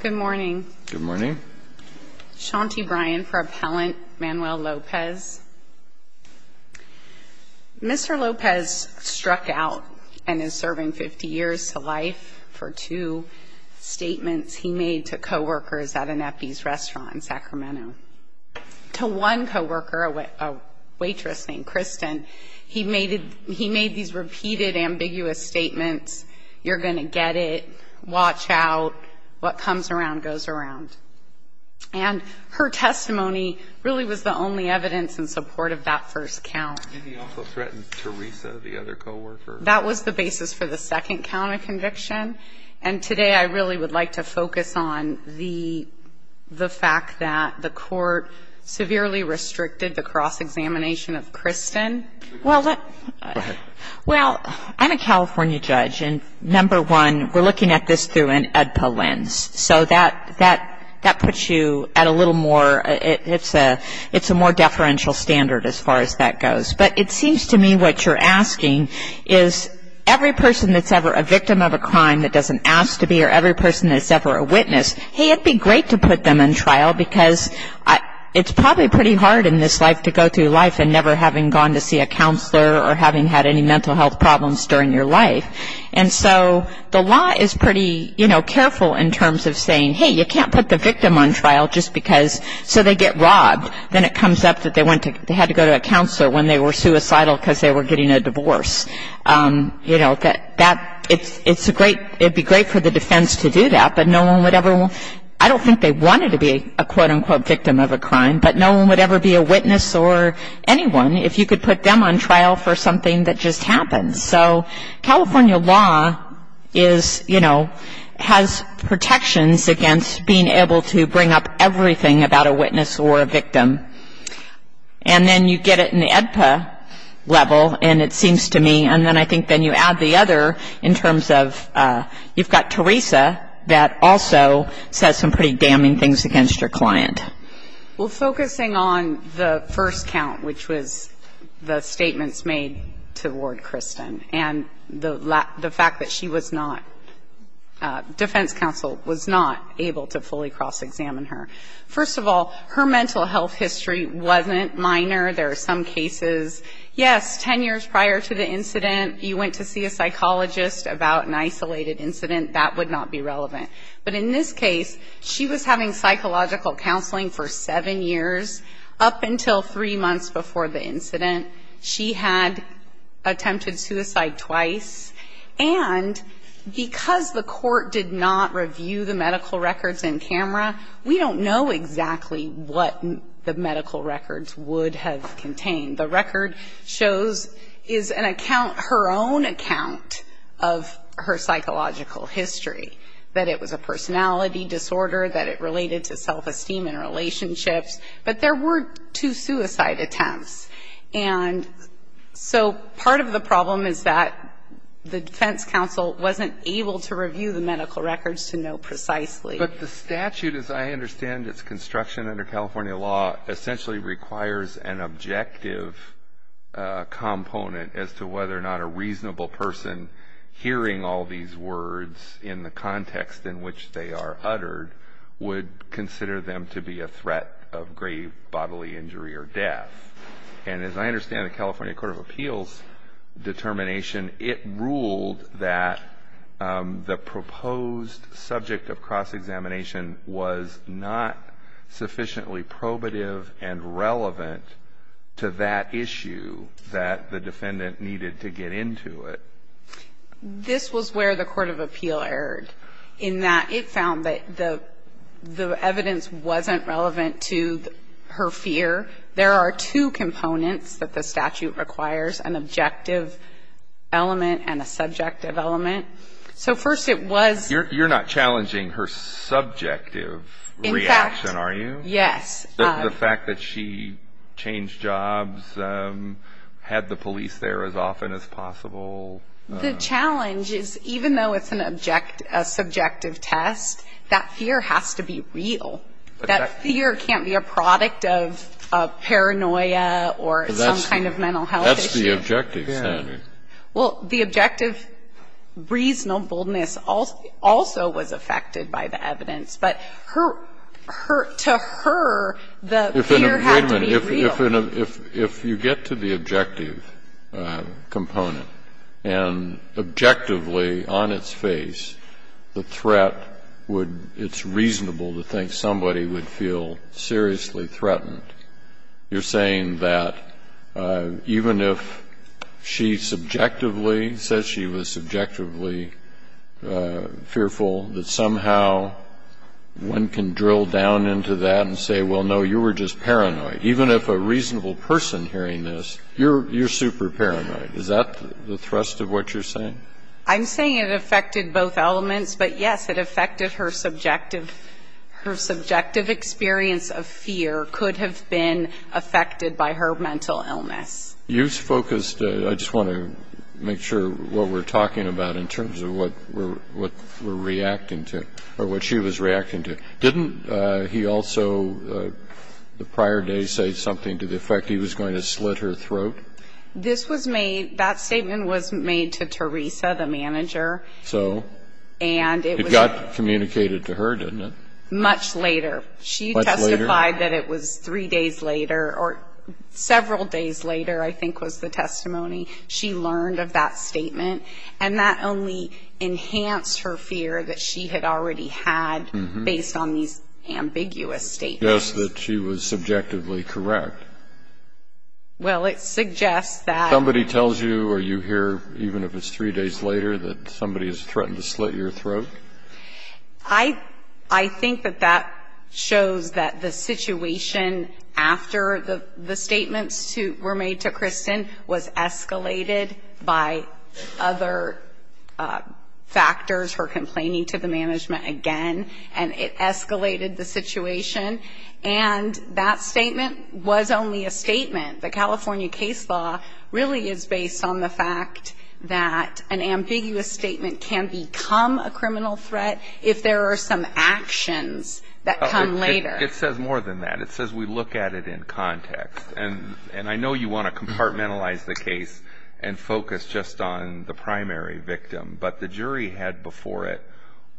Good morning. Good morning. Shanti Bryan for Appellant Manuel Lopez. Mr. Lopez struck out and is serving 50 years to life for two statements he made to co-workers at an Epi's restaurant in Sacramento. To one co-worker, a waitress named Kristen, he made these repeated ambiguous statements, you're gonna get it, watch out, what comes around goes around. And her testimony really was the only evidence in support of that first count. That was the basis for the second count of conviction and today I really would like to focus on the the fact that the court severely restricted the cross-examination of we're looking at this through an EDPA lens. So that puts you at a little more, it's a more deferential standard as far as that goes. But it seems to me what you're asking is every person that's ever a victim of a crime that doesn't ask to be or every person that's ever a witness, hey, it'd be great to put them in trial because it's probably pretty hard in this life to go through life and never having gone to see a counselor or having had any The law is pretty, you know, careful in terms of saying, hey, you can't put the victim on trial just because, so they get robbed. Then it comes up that they went to, they had to go to a counselor when they were suicidal because they were getting a divorce. You know, that, it's a great, it'd be great for the defense to do that, but no one would ever, I don't think they wanted to be a quote-unquote victim of a crime, but no one would ever be a witness or anyone if you could put them on trial for something that just happened. So California law is, you know, has protections against being able to bring up everything about a witness or a victim. And then you get it in the AEDPA level, and it seems to me, and then I think then you add the other in terms of, you've got Teresa that also says some pretty damning things against your client. Well, focusing on the first count, which was the statements made to Ward Kristen and the fact that she was not, defense counsel was not able to fully cross-examine her. First of all, her mental health history wasn't minor. There are some cases, yes, ten years prior to the incident, you went to see a psychologist about an isolated incident, that would not be relevant. But in this case, she was having psychological counseling for seven years, up until three months before the incident. She had attempted suicide twice. And because the court did not review the medical records in camera, we don't know exactly what the medical records would have contained. The record shows is an account, her own account of her psychological history, that it was a personality disorder, that it related to self-esteem in relationships. But there were two suicide attempts. And so, part of the problem is that the defense counsel wasn't able to review the medical records to know precisely. But the statute, as I understand it, it's construction under California law essentially requires an objective component as to whether or not a reasonable person hearing all these words in the context in which they are uttered would consider them to be a threat of grave bodily injury or death. And as I understand the California Court of Appeals determination, it ruled that the proposed subject of cross-examination was not sufficiently probative and relevant to that issue that the defendant needed to get into it. This was where the Court of Appeal erred in that it found that the evidence wasn't relevant to her fear. There are two components that the statute requires, an objective element and a subjective element. So first it was... You're not challenging her subjective reaction, are you? In fact, yes. The fact that she changed jobs, had the police there as often as possible. The challenge is even though it's a subjective test, that fear has to be real. That fear can't be a product of paranoia or some kind of mental health issue. That's the objective standard. Well, the objective reasonableness also was affected by the evidence. But to her, the fear had to be real. If you get to the objective component, and objectively on its face, the threat would be reasonable to think somebody would feel seriously threatened. You're saying that even if she subjectively said she was subjectively fearful, that somehow one can drill down into that and say, well, no, you were just paranoid. Even if a reasonable person hearing this, you're super paranoid. Is that the thrust of what you're saying? I'm saying it affected both elements. But, yes, it affected her subjective experience of fear could have been affected by her mental illness. You've focused, I just want to make sure what we're talking about in terms of what we're reacting to, or what she was reacting to. Didn't he also, the prior day, say something to the effect he was going to slit her throat? This was made, that statement was made to Teresa, the manager. So? And it was a It got communicated to her, didn't it? Much later. Much later? She testified that it was three days later, or several days later, I think, was the testimony. She learned of that statement. And that only enhanced her fear that she had already had, based on these ambiguous statements. It suggests that she was subjectively correct. Well, it suggests that Somebody tells you, or you hear, even if it's three days later, that somebody has threatened to slit your throat? I think that that shows that the situation after the statements were made to Teresa escalated by other factors, her complaining to the management again, and it escalated the situation. And that statement was only a statement. The California case law really is based on the fact that an ambiguous statement can become a criminal threat if there are some actions that come later. It says more than that. It says we look at it in context. And I know you want to compartmentalize the case and focus just on the primary victim. But the jury had before it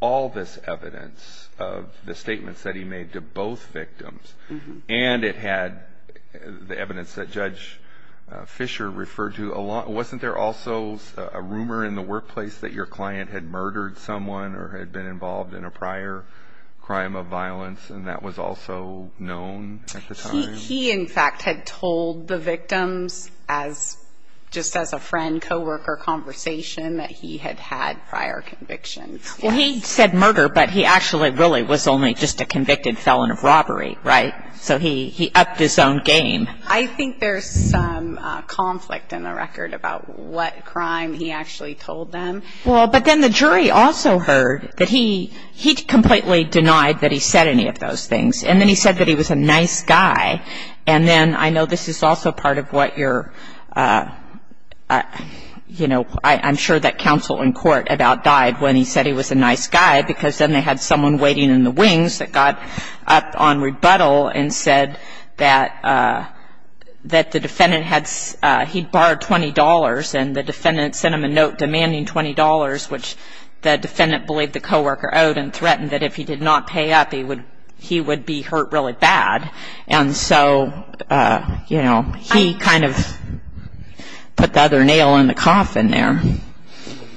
all this evidence of the statements that he made to both victims, and it had the evidence that Judge Fisher referred to a lot. Wasn't there also a rumor in the workplace that your client had murdered someone or had been involved in a prior crime of violence? And that was also known at the time? He, in fact, had told the victims, just as a friend, co-worker conversation, that he had had prior convictions. Well, he said murder, but he actually really was only just a convicted felon of robbery, right? So he upped his own game. I think there's some conflict in the record about what crime he actually told them. Well, but then the jury also heard that he completely denied that he said any of those things. And then he said that he was a nice guy. And then I know this is also part of what your, you know, I'm sure that counsel in court about died when he said he was a nice guy because then they had someone waiting in the wings that got up on rebuttal and said that the defendant had, he'd borrowed $20 and the defendant sent him a note demanding $20, which the defendant believed the co-worker owed and threatened that if he did not pay up, he would be hurt really bad. And so, you know, he kind of put the other nail in the coffin there.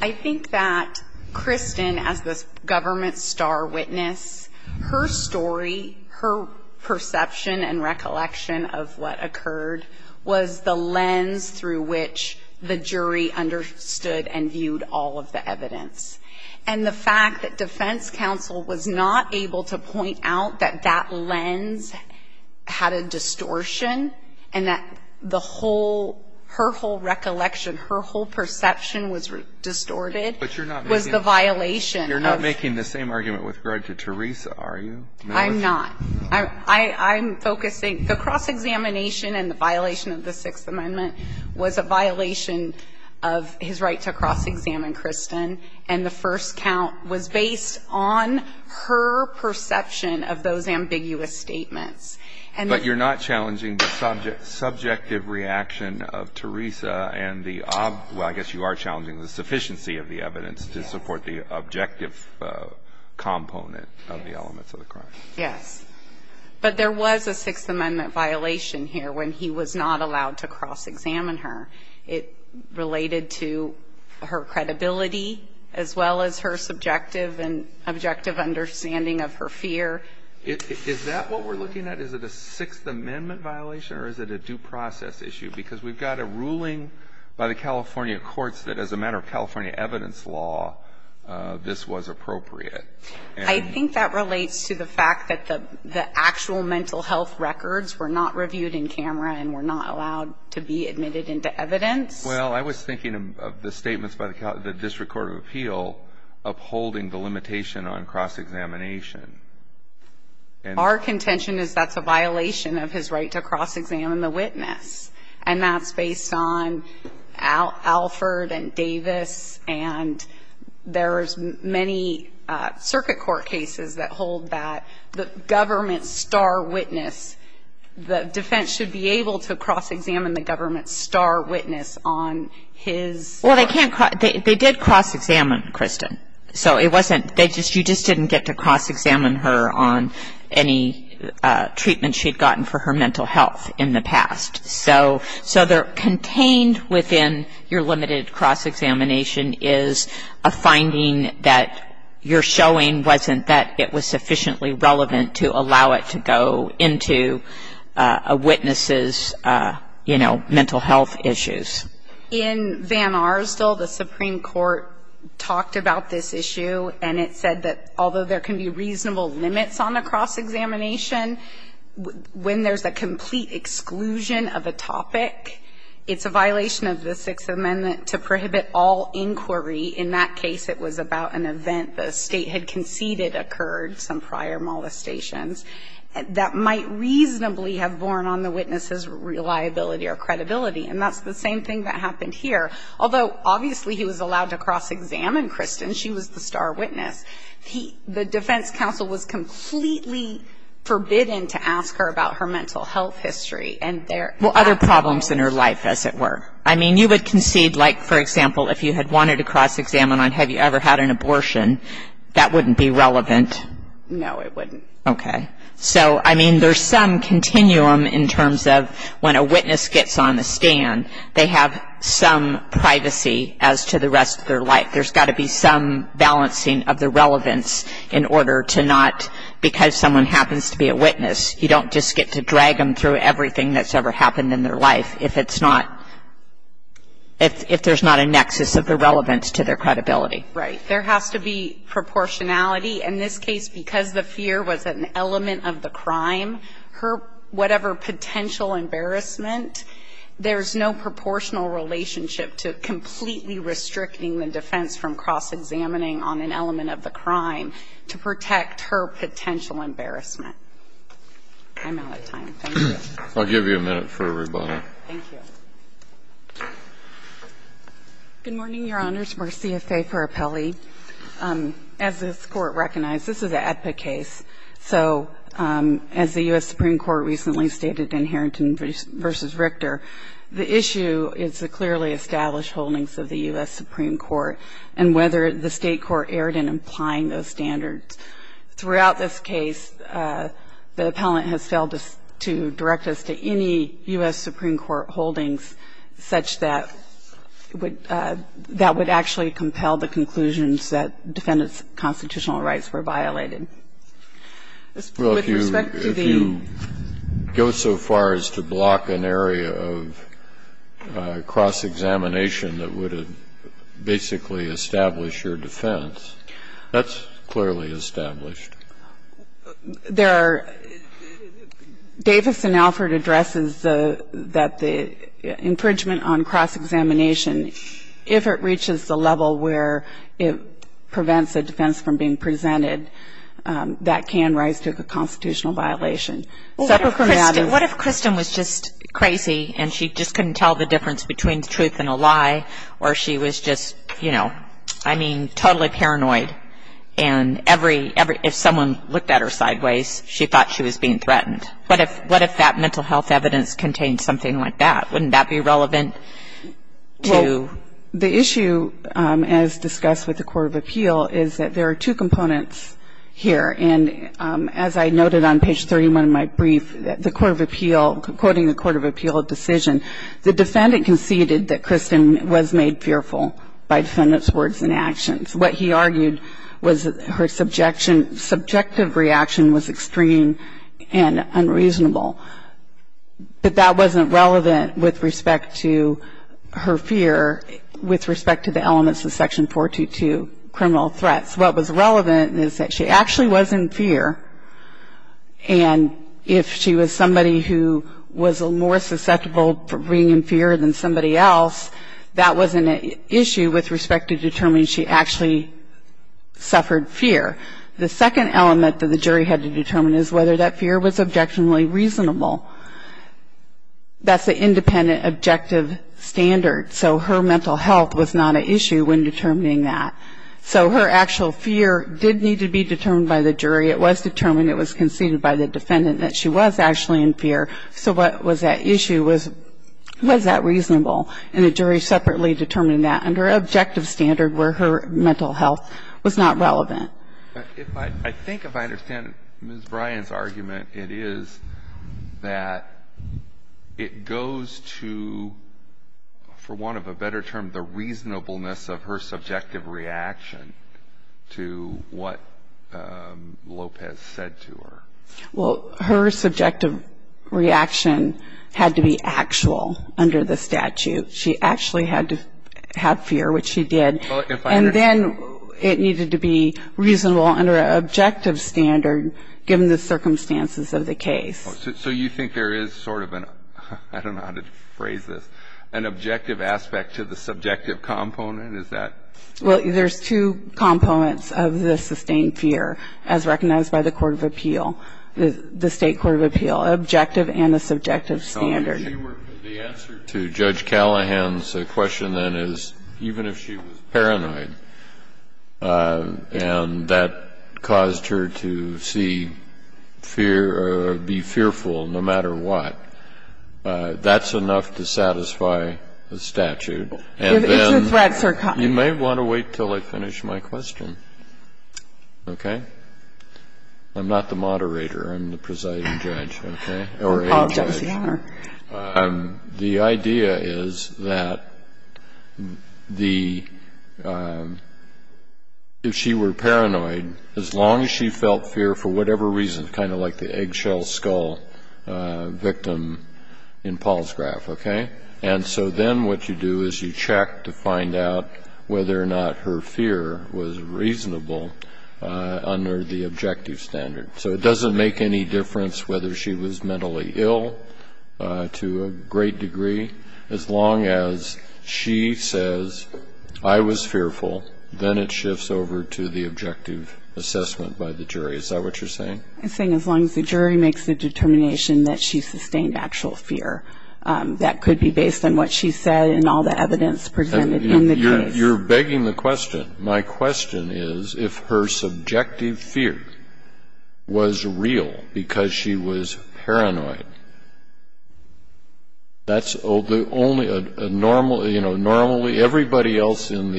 I think that Kristen, as this government star witness, her story, her perception and recollection of what occurred was the lens through which the jury understood and viewed all of the evidence. And the fact that defense counsel was not able to point out that that lens had a distortion and that the whole, her whole recollection, her whole perception was distorted. But you're not making- Was the violation of- You're not making the same argument with regard to Teresa, are you? I'm not. I'm focusing, the cross-examination and the violation of the Sixth Amendment was a violation of his right to cross-examine Kristen. And the first count was based on her perception of those ambiguous statements. But you're not challenging the subjective reaction of Teresa and the, well, I guess you are challenging the sufficiency of the evidence to support the objective component of the elements of the crime. Yes. But there was a Sixth Amendment violation here when he was not allowed to cross-examine her. It related to her credibility as well as her subjective and objective understanding of her fear. Is that what we're looking at? Is it a Sixth Amendment violation or is it a due process issue? Because we've got a ruling by the California courts that as a matter of California evidence law, this was appropriate. I think that relates to the fact that the actual mental health records were not reviewed in camera and were not allowed to be admitted into evidence. Well, I was thinking of the statements by the district court of appeal upholding the limitation on cross-examination. Our contention is that's a violation of his right to cross-examine the witness. And that's based on Alford and Davis, and there's many circuit court cases that hold that. But the government star witness, the defense should be able to cross-examine the government star witness on his… Well, they did cross-examine Kristen. So it wasn't, you just didn't get to cross-examine her on any treatment she had gotten for her mental health in the past. So contained within your limited cross-examination is a finding that you're showing wasn't that it was sufficiently relevant to allow it to go into a witness's, you know, mental health issues. In Van Arsdale, the Supreme Court talked about this issue, and it said that although there can be reasonable limits on a cross-examination, when there's a complete exclusion of a topic, it's a violation of the Sixth Amendment to prohibit all inquiry. In that case, it was about an event the State had conceded occurred, some prior molestations, that might reasonably have borne on the witness's reliability or credibility. And that's the same thing that happened here. Although obviously he was allowed to cross-examine Kristen. She was the star witness. The defense counsel was completely forbidden to ask her about her mental health history and their… Well, other problems in her life, as it were. I mean, you would concede, like, for example, if you had wanted to cross-examine on have you ever had an abortion, that wouldn't be relevant. No, it wouldn't. Okay. So, I mean, there's some continuum in terms of when a witness gets on the stand, they have some privacy as to the rest of their life. There's got to be some balancing of the relevance in order to not, because someone happens to be a witness, you don't just get to drag them through everything that's ever happened in their life if it's not, if there's not a nexus of the relevance to their credibility. Right. There has to be proportionality. In this case, because the fear was an element of the crime, her, whatever potential embarrassment, there's no proportional relationship to completely restricting the defense from cross-examining on an element of the crime to protect her potential embarrassment. I'm out of time. Thank you. I'll give you a minute for a rebuttal. Thank you. Good morning, Your Honors. Marcia Fay for Appellee. As this Court recognized, this is an AEDPA case. So as the U.S. Supreme Court recently stated in Harrington v. Richter, the issue is the clearly established holdings of the U.S. Supreme Court and whether the State Court erred in implying those standards. Throughout this case, the appellant has failed to direct us to any U.S. Supreme Court holdings such that would actually compel the conclusions that defendants' constitutional rights were violated. With respect to the ---- Well, if you go so far as to block an area of cross-examination that would basically establish your defense, that's clearly established. There are ---- Davis and Alford addresses that the infringement on cross-examination, if it reaches the level where it prevents a defense from being presented, that can rise to a constitutional violation. What if Kristen was just crazy and she just couldn't tell the difference between the truth and a lie or she was just, you know, I mean, totally paranoid and if someone looked at her sideways, she thought she was being threatened? What if that mental health evidence contained something like that? Wouldn't that be relevant to ---- The issue, as discussed with the Court of Appeal, is that there are two components here and as I noted on page 31 of my brief, the Court of Appeal, quoting the defendant, stated that Kristen was made fearful by defendants' words and actions. What he argued was her subjective reaction was extreme and unreasonable, but that wasn't relevant with respect to her fear, with respect to the elements of Section 422, criminal threats. What was relevant is that she actually was in fear and if she was somebody who was more susceptible to being in fear than somebody else, that wasn't an issue with respect to determining she actually suffered fear. The second element that the jury had to determine is whether that fear was objectionably reasonable. That's the independent objective standard, so her mental health was not an issue when determining that. So her actual fear did need to be determined by the jury. It was determined, it was conceded by the defendant that she was actually in fear, so what was at issue was, was that reasonable? And the jury separately determined that under objective standard where her mental health was not relevant. I think if I understand Ms. Bryan's argument, it is that it goes to, for one of a better term, the reasonableness of her subjective reaction to what Lopez said to her. Well, her subjective reaction had to be actual under the statute. She actually had to have fear, which she did. And then it needed to be reasonable under an objective standard given the circumstances of the case. So you think there is sort of an, I don't know how to phrase this, an objective aspect to the subjective component, is that? Well, there's two components of the sustained fear as recognized by the Court of Appeal. The State Court of Appeal objective and the subjective standard. So if she were, the answer to Judge Callahan's question then is even if she was paranoid and that caused her to see fear or be fearful no matter what, that's enough to satisfy the statute. If it's a threat, sir. You may want to wait until I finish my question, okay? I'm not the moderator, I'm the presiding judge, okay? Or a judge. Oh, judge, yeah. The idea is that the, if she were paranoid, as long as she felt fear for whatever reason, kind of like the eggshell skull victim in Paul's graph, okay? And so then what you do is you check to find out whether or not her fear was reasonable under the objective standard. So it doesn't make any difference whether she was mentally ill to a great degree, as long as she says, I was fearful, then it shifts over to the objective assessment by the jury. Is that what you're saying? I'm saying as long as the jury makes the determination that she sustained actual fear. That could be based on what she said and all the evidence presented in the case. You're begging the question. My question is if her subjective fear was real because she was paranoid. That's the only, normally, everybody else in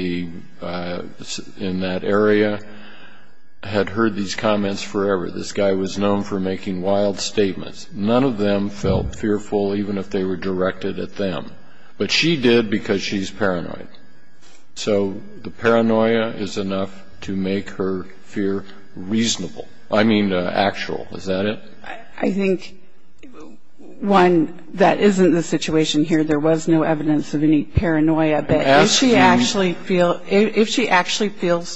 that area had heard these comments forever. This guy was known for making wild statements. None of them felt fearful, even if they were directed at them. But she did because she's paranoid. So the paranoia is enough to make her fear reasonable. I mean actual. Is that it? I think, one, that isn't the situation here. There was no evidence of any paranoia. But if she actually feels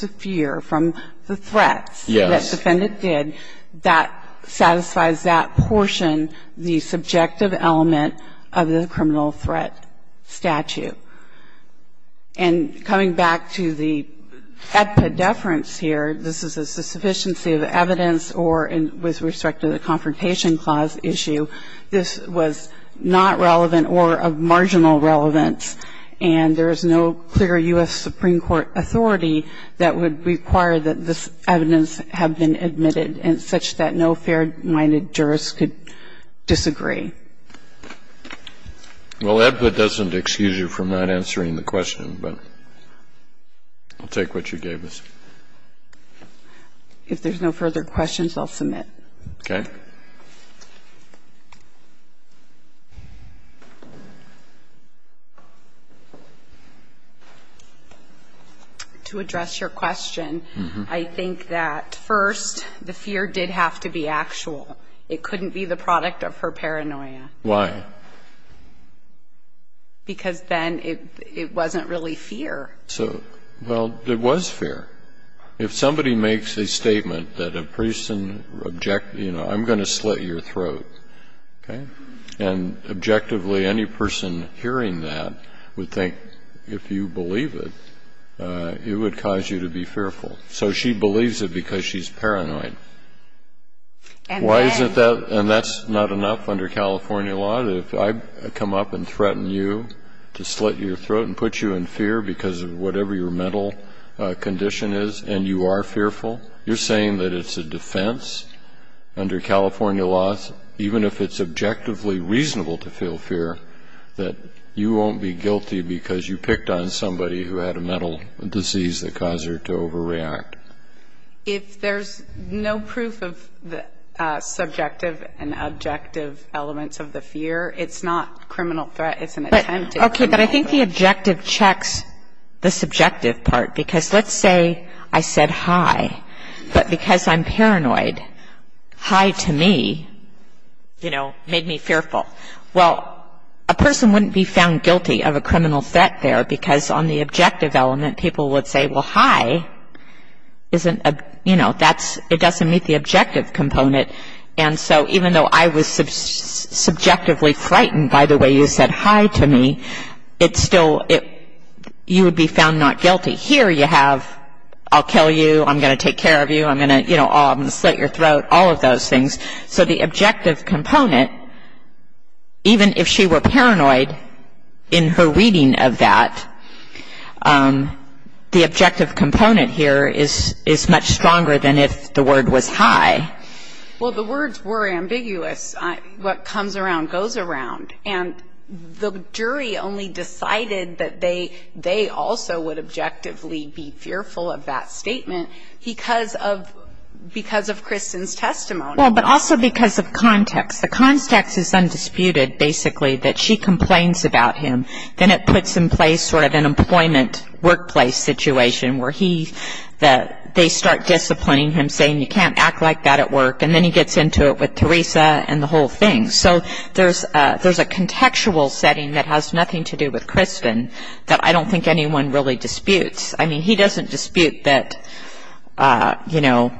the fear from the threats that defendant did, that satisfies that portion, the subjective element of the criminal threat statute. And coming back to the epidefference here, this is a sufficiency of evidence or with respect to the Confrontation Clause issue, this was not relevant or of marginal relevance. And there is no clear U.S. Supreme Court authority that would require that this evidence have been admitted, and such that no fair-minded jurist could disagree. Well, that doesn't excuse you from not answering the question, but I'll take what you gave us. If there's no further questions, I'll submit. Okay. First, the fear did have to be actual. It couldn't be the product of her paranoia. Why? Because then it wasn't really fear. So, well, it was fear. If somebody makes a statement that a person, you know, I'm going to slit your throat, okay, and objectively any person hearing that would think if you believe it, it would cause you to be fearful. So she believes it because she's paranoid. Why is it that, and that's not enough under California law, that if I come up and threaten you to slit your throat and put you in fear because of whatever your mental condition is, and you are fearful, you're saying that it's a defense under California laws, even if it's objectively reasonable to feel fear, that you won't be guilty because you picked on somebody who had a mental disease that caused her to overreact? If there's no proof of the subjective and objective elements of the fear, it's not criminal threat. It's an attempt to criminal threat. Okay, but I think the objective checks the subjective part, because let's say I said hi, but because I'm paranoid, hi to me, you know, made me fearful. Well, a person wouldn't be found guilty of a criminal threat there, because on the objective element people would say, well, hi, isn't a, you know, that's, it doesn't meet the objective component. And so even though I was subjectively frightened by the way you said hi to me, it still, you would be found not guilty. Here you have I'll kill you, I'm going to take care of you, I'm going to, you know, I'm going to slit your throat, all of those things. So the objective component, even if she were paranoid in her reading of that, the objective component here is much stronger than if the word was hi. Well, the words were ambiguous. What comes around goes around. And the jury only decided that they also would objectively be fearful of that statement because of Kristen's testimony. Well, but also because of context. The context is undisputed, basically, that she complains about him. Then it puts in place sort of an employment workplace situation where he, they start disciplining him, saying you can't act like that at work, and then he gets into it with Teresa and the whole thing. So there's a contextual setting that has nothing to do with Kristen that I don't think anyone really disputes. I mean, he doesn't dispute that, you know,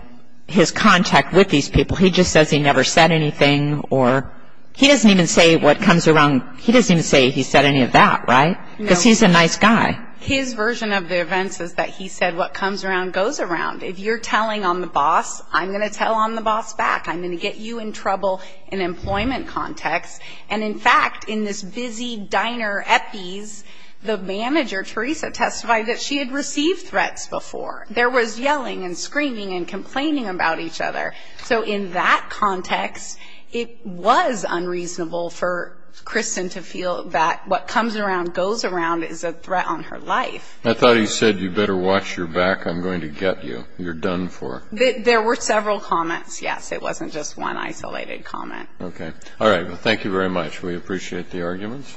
his contact with these people. He just says he never said anything or he doesn't even say what comes around. He doesn't even say he said any of that, right, because he's a nice guy. His version of the events is that he said what comes around goes around. If you're telling on the boss, I'm going to tell on the boss back. I'm going to get you in trouble in employment context. And, in fact, in this busy diner at these, the manager, Teresa, testified that she had received threats before. There was yelling and screaming and complaining about each other. So in that context, it was unreasonable for Kristen to feel that what comes around, goes around, is a threat on her life. I thought he said you better watch your back. I'm going to get you. You're done for. There were several comments, yes. It wasn't just one isolated comment. Okay. All right. Well, thank you very much. We appreciate the arguments.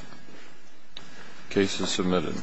Case is submitted.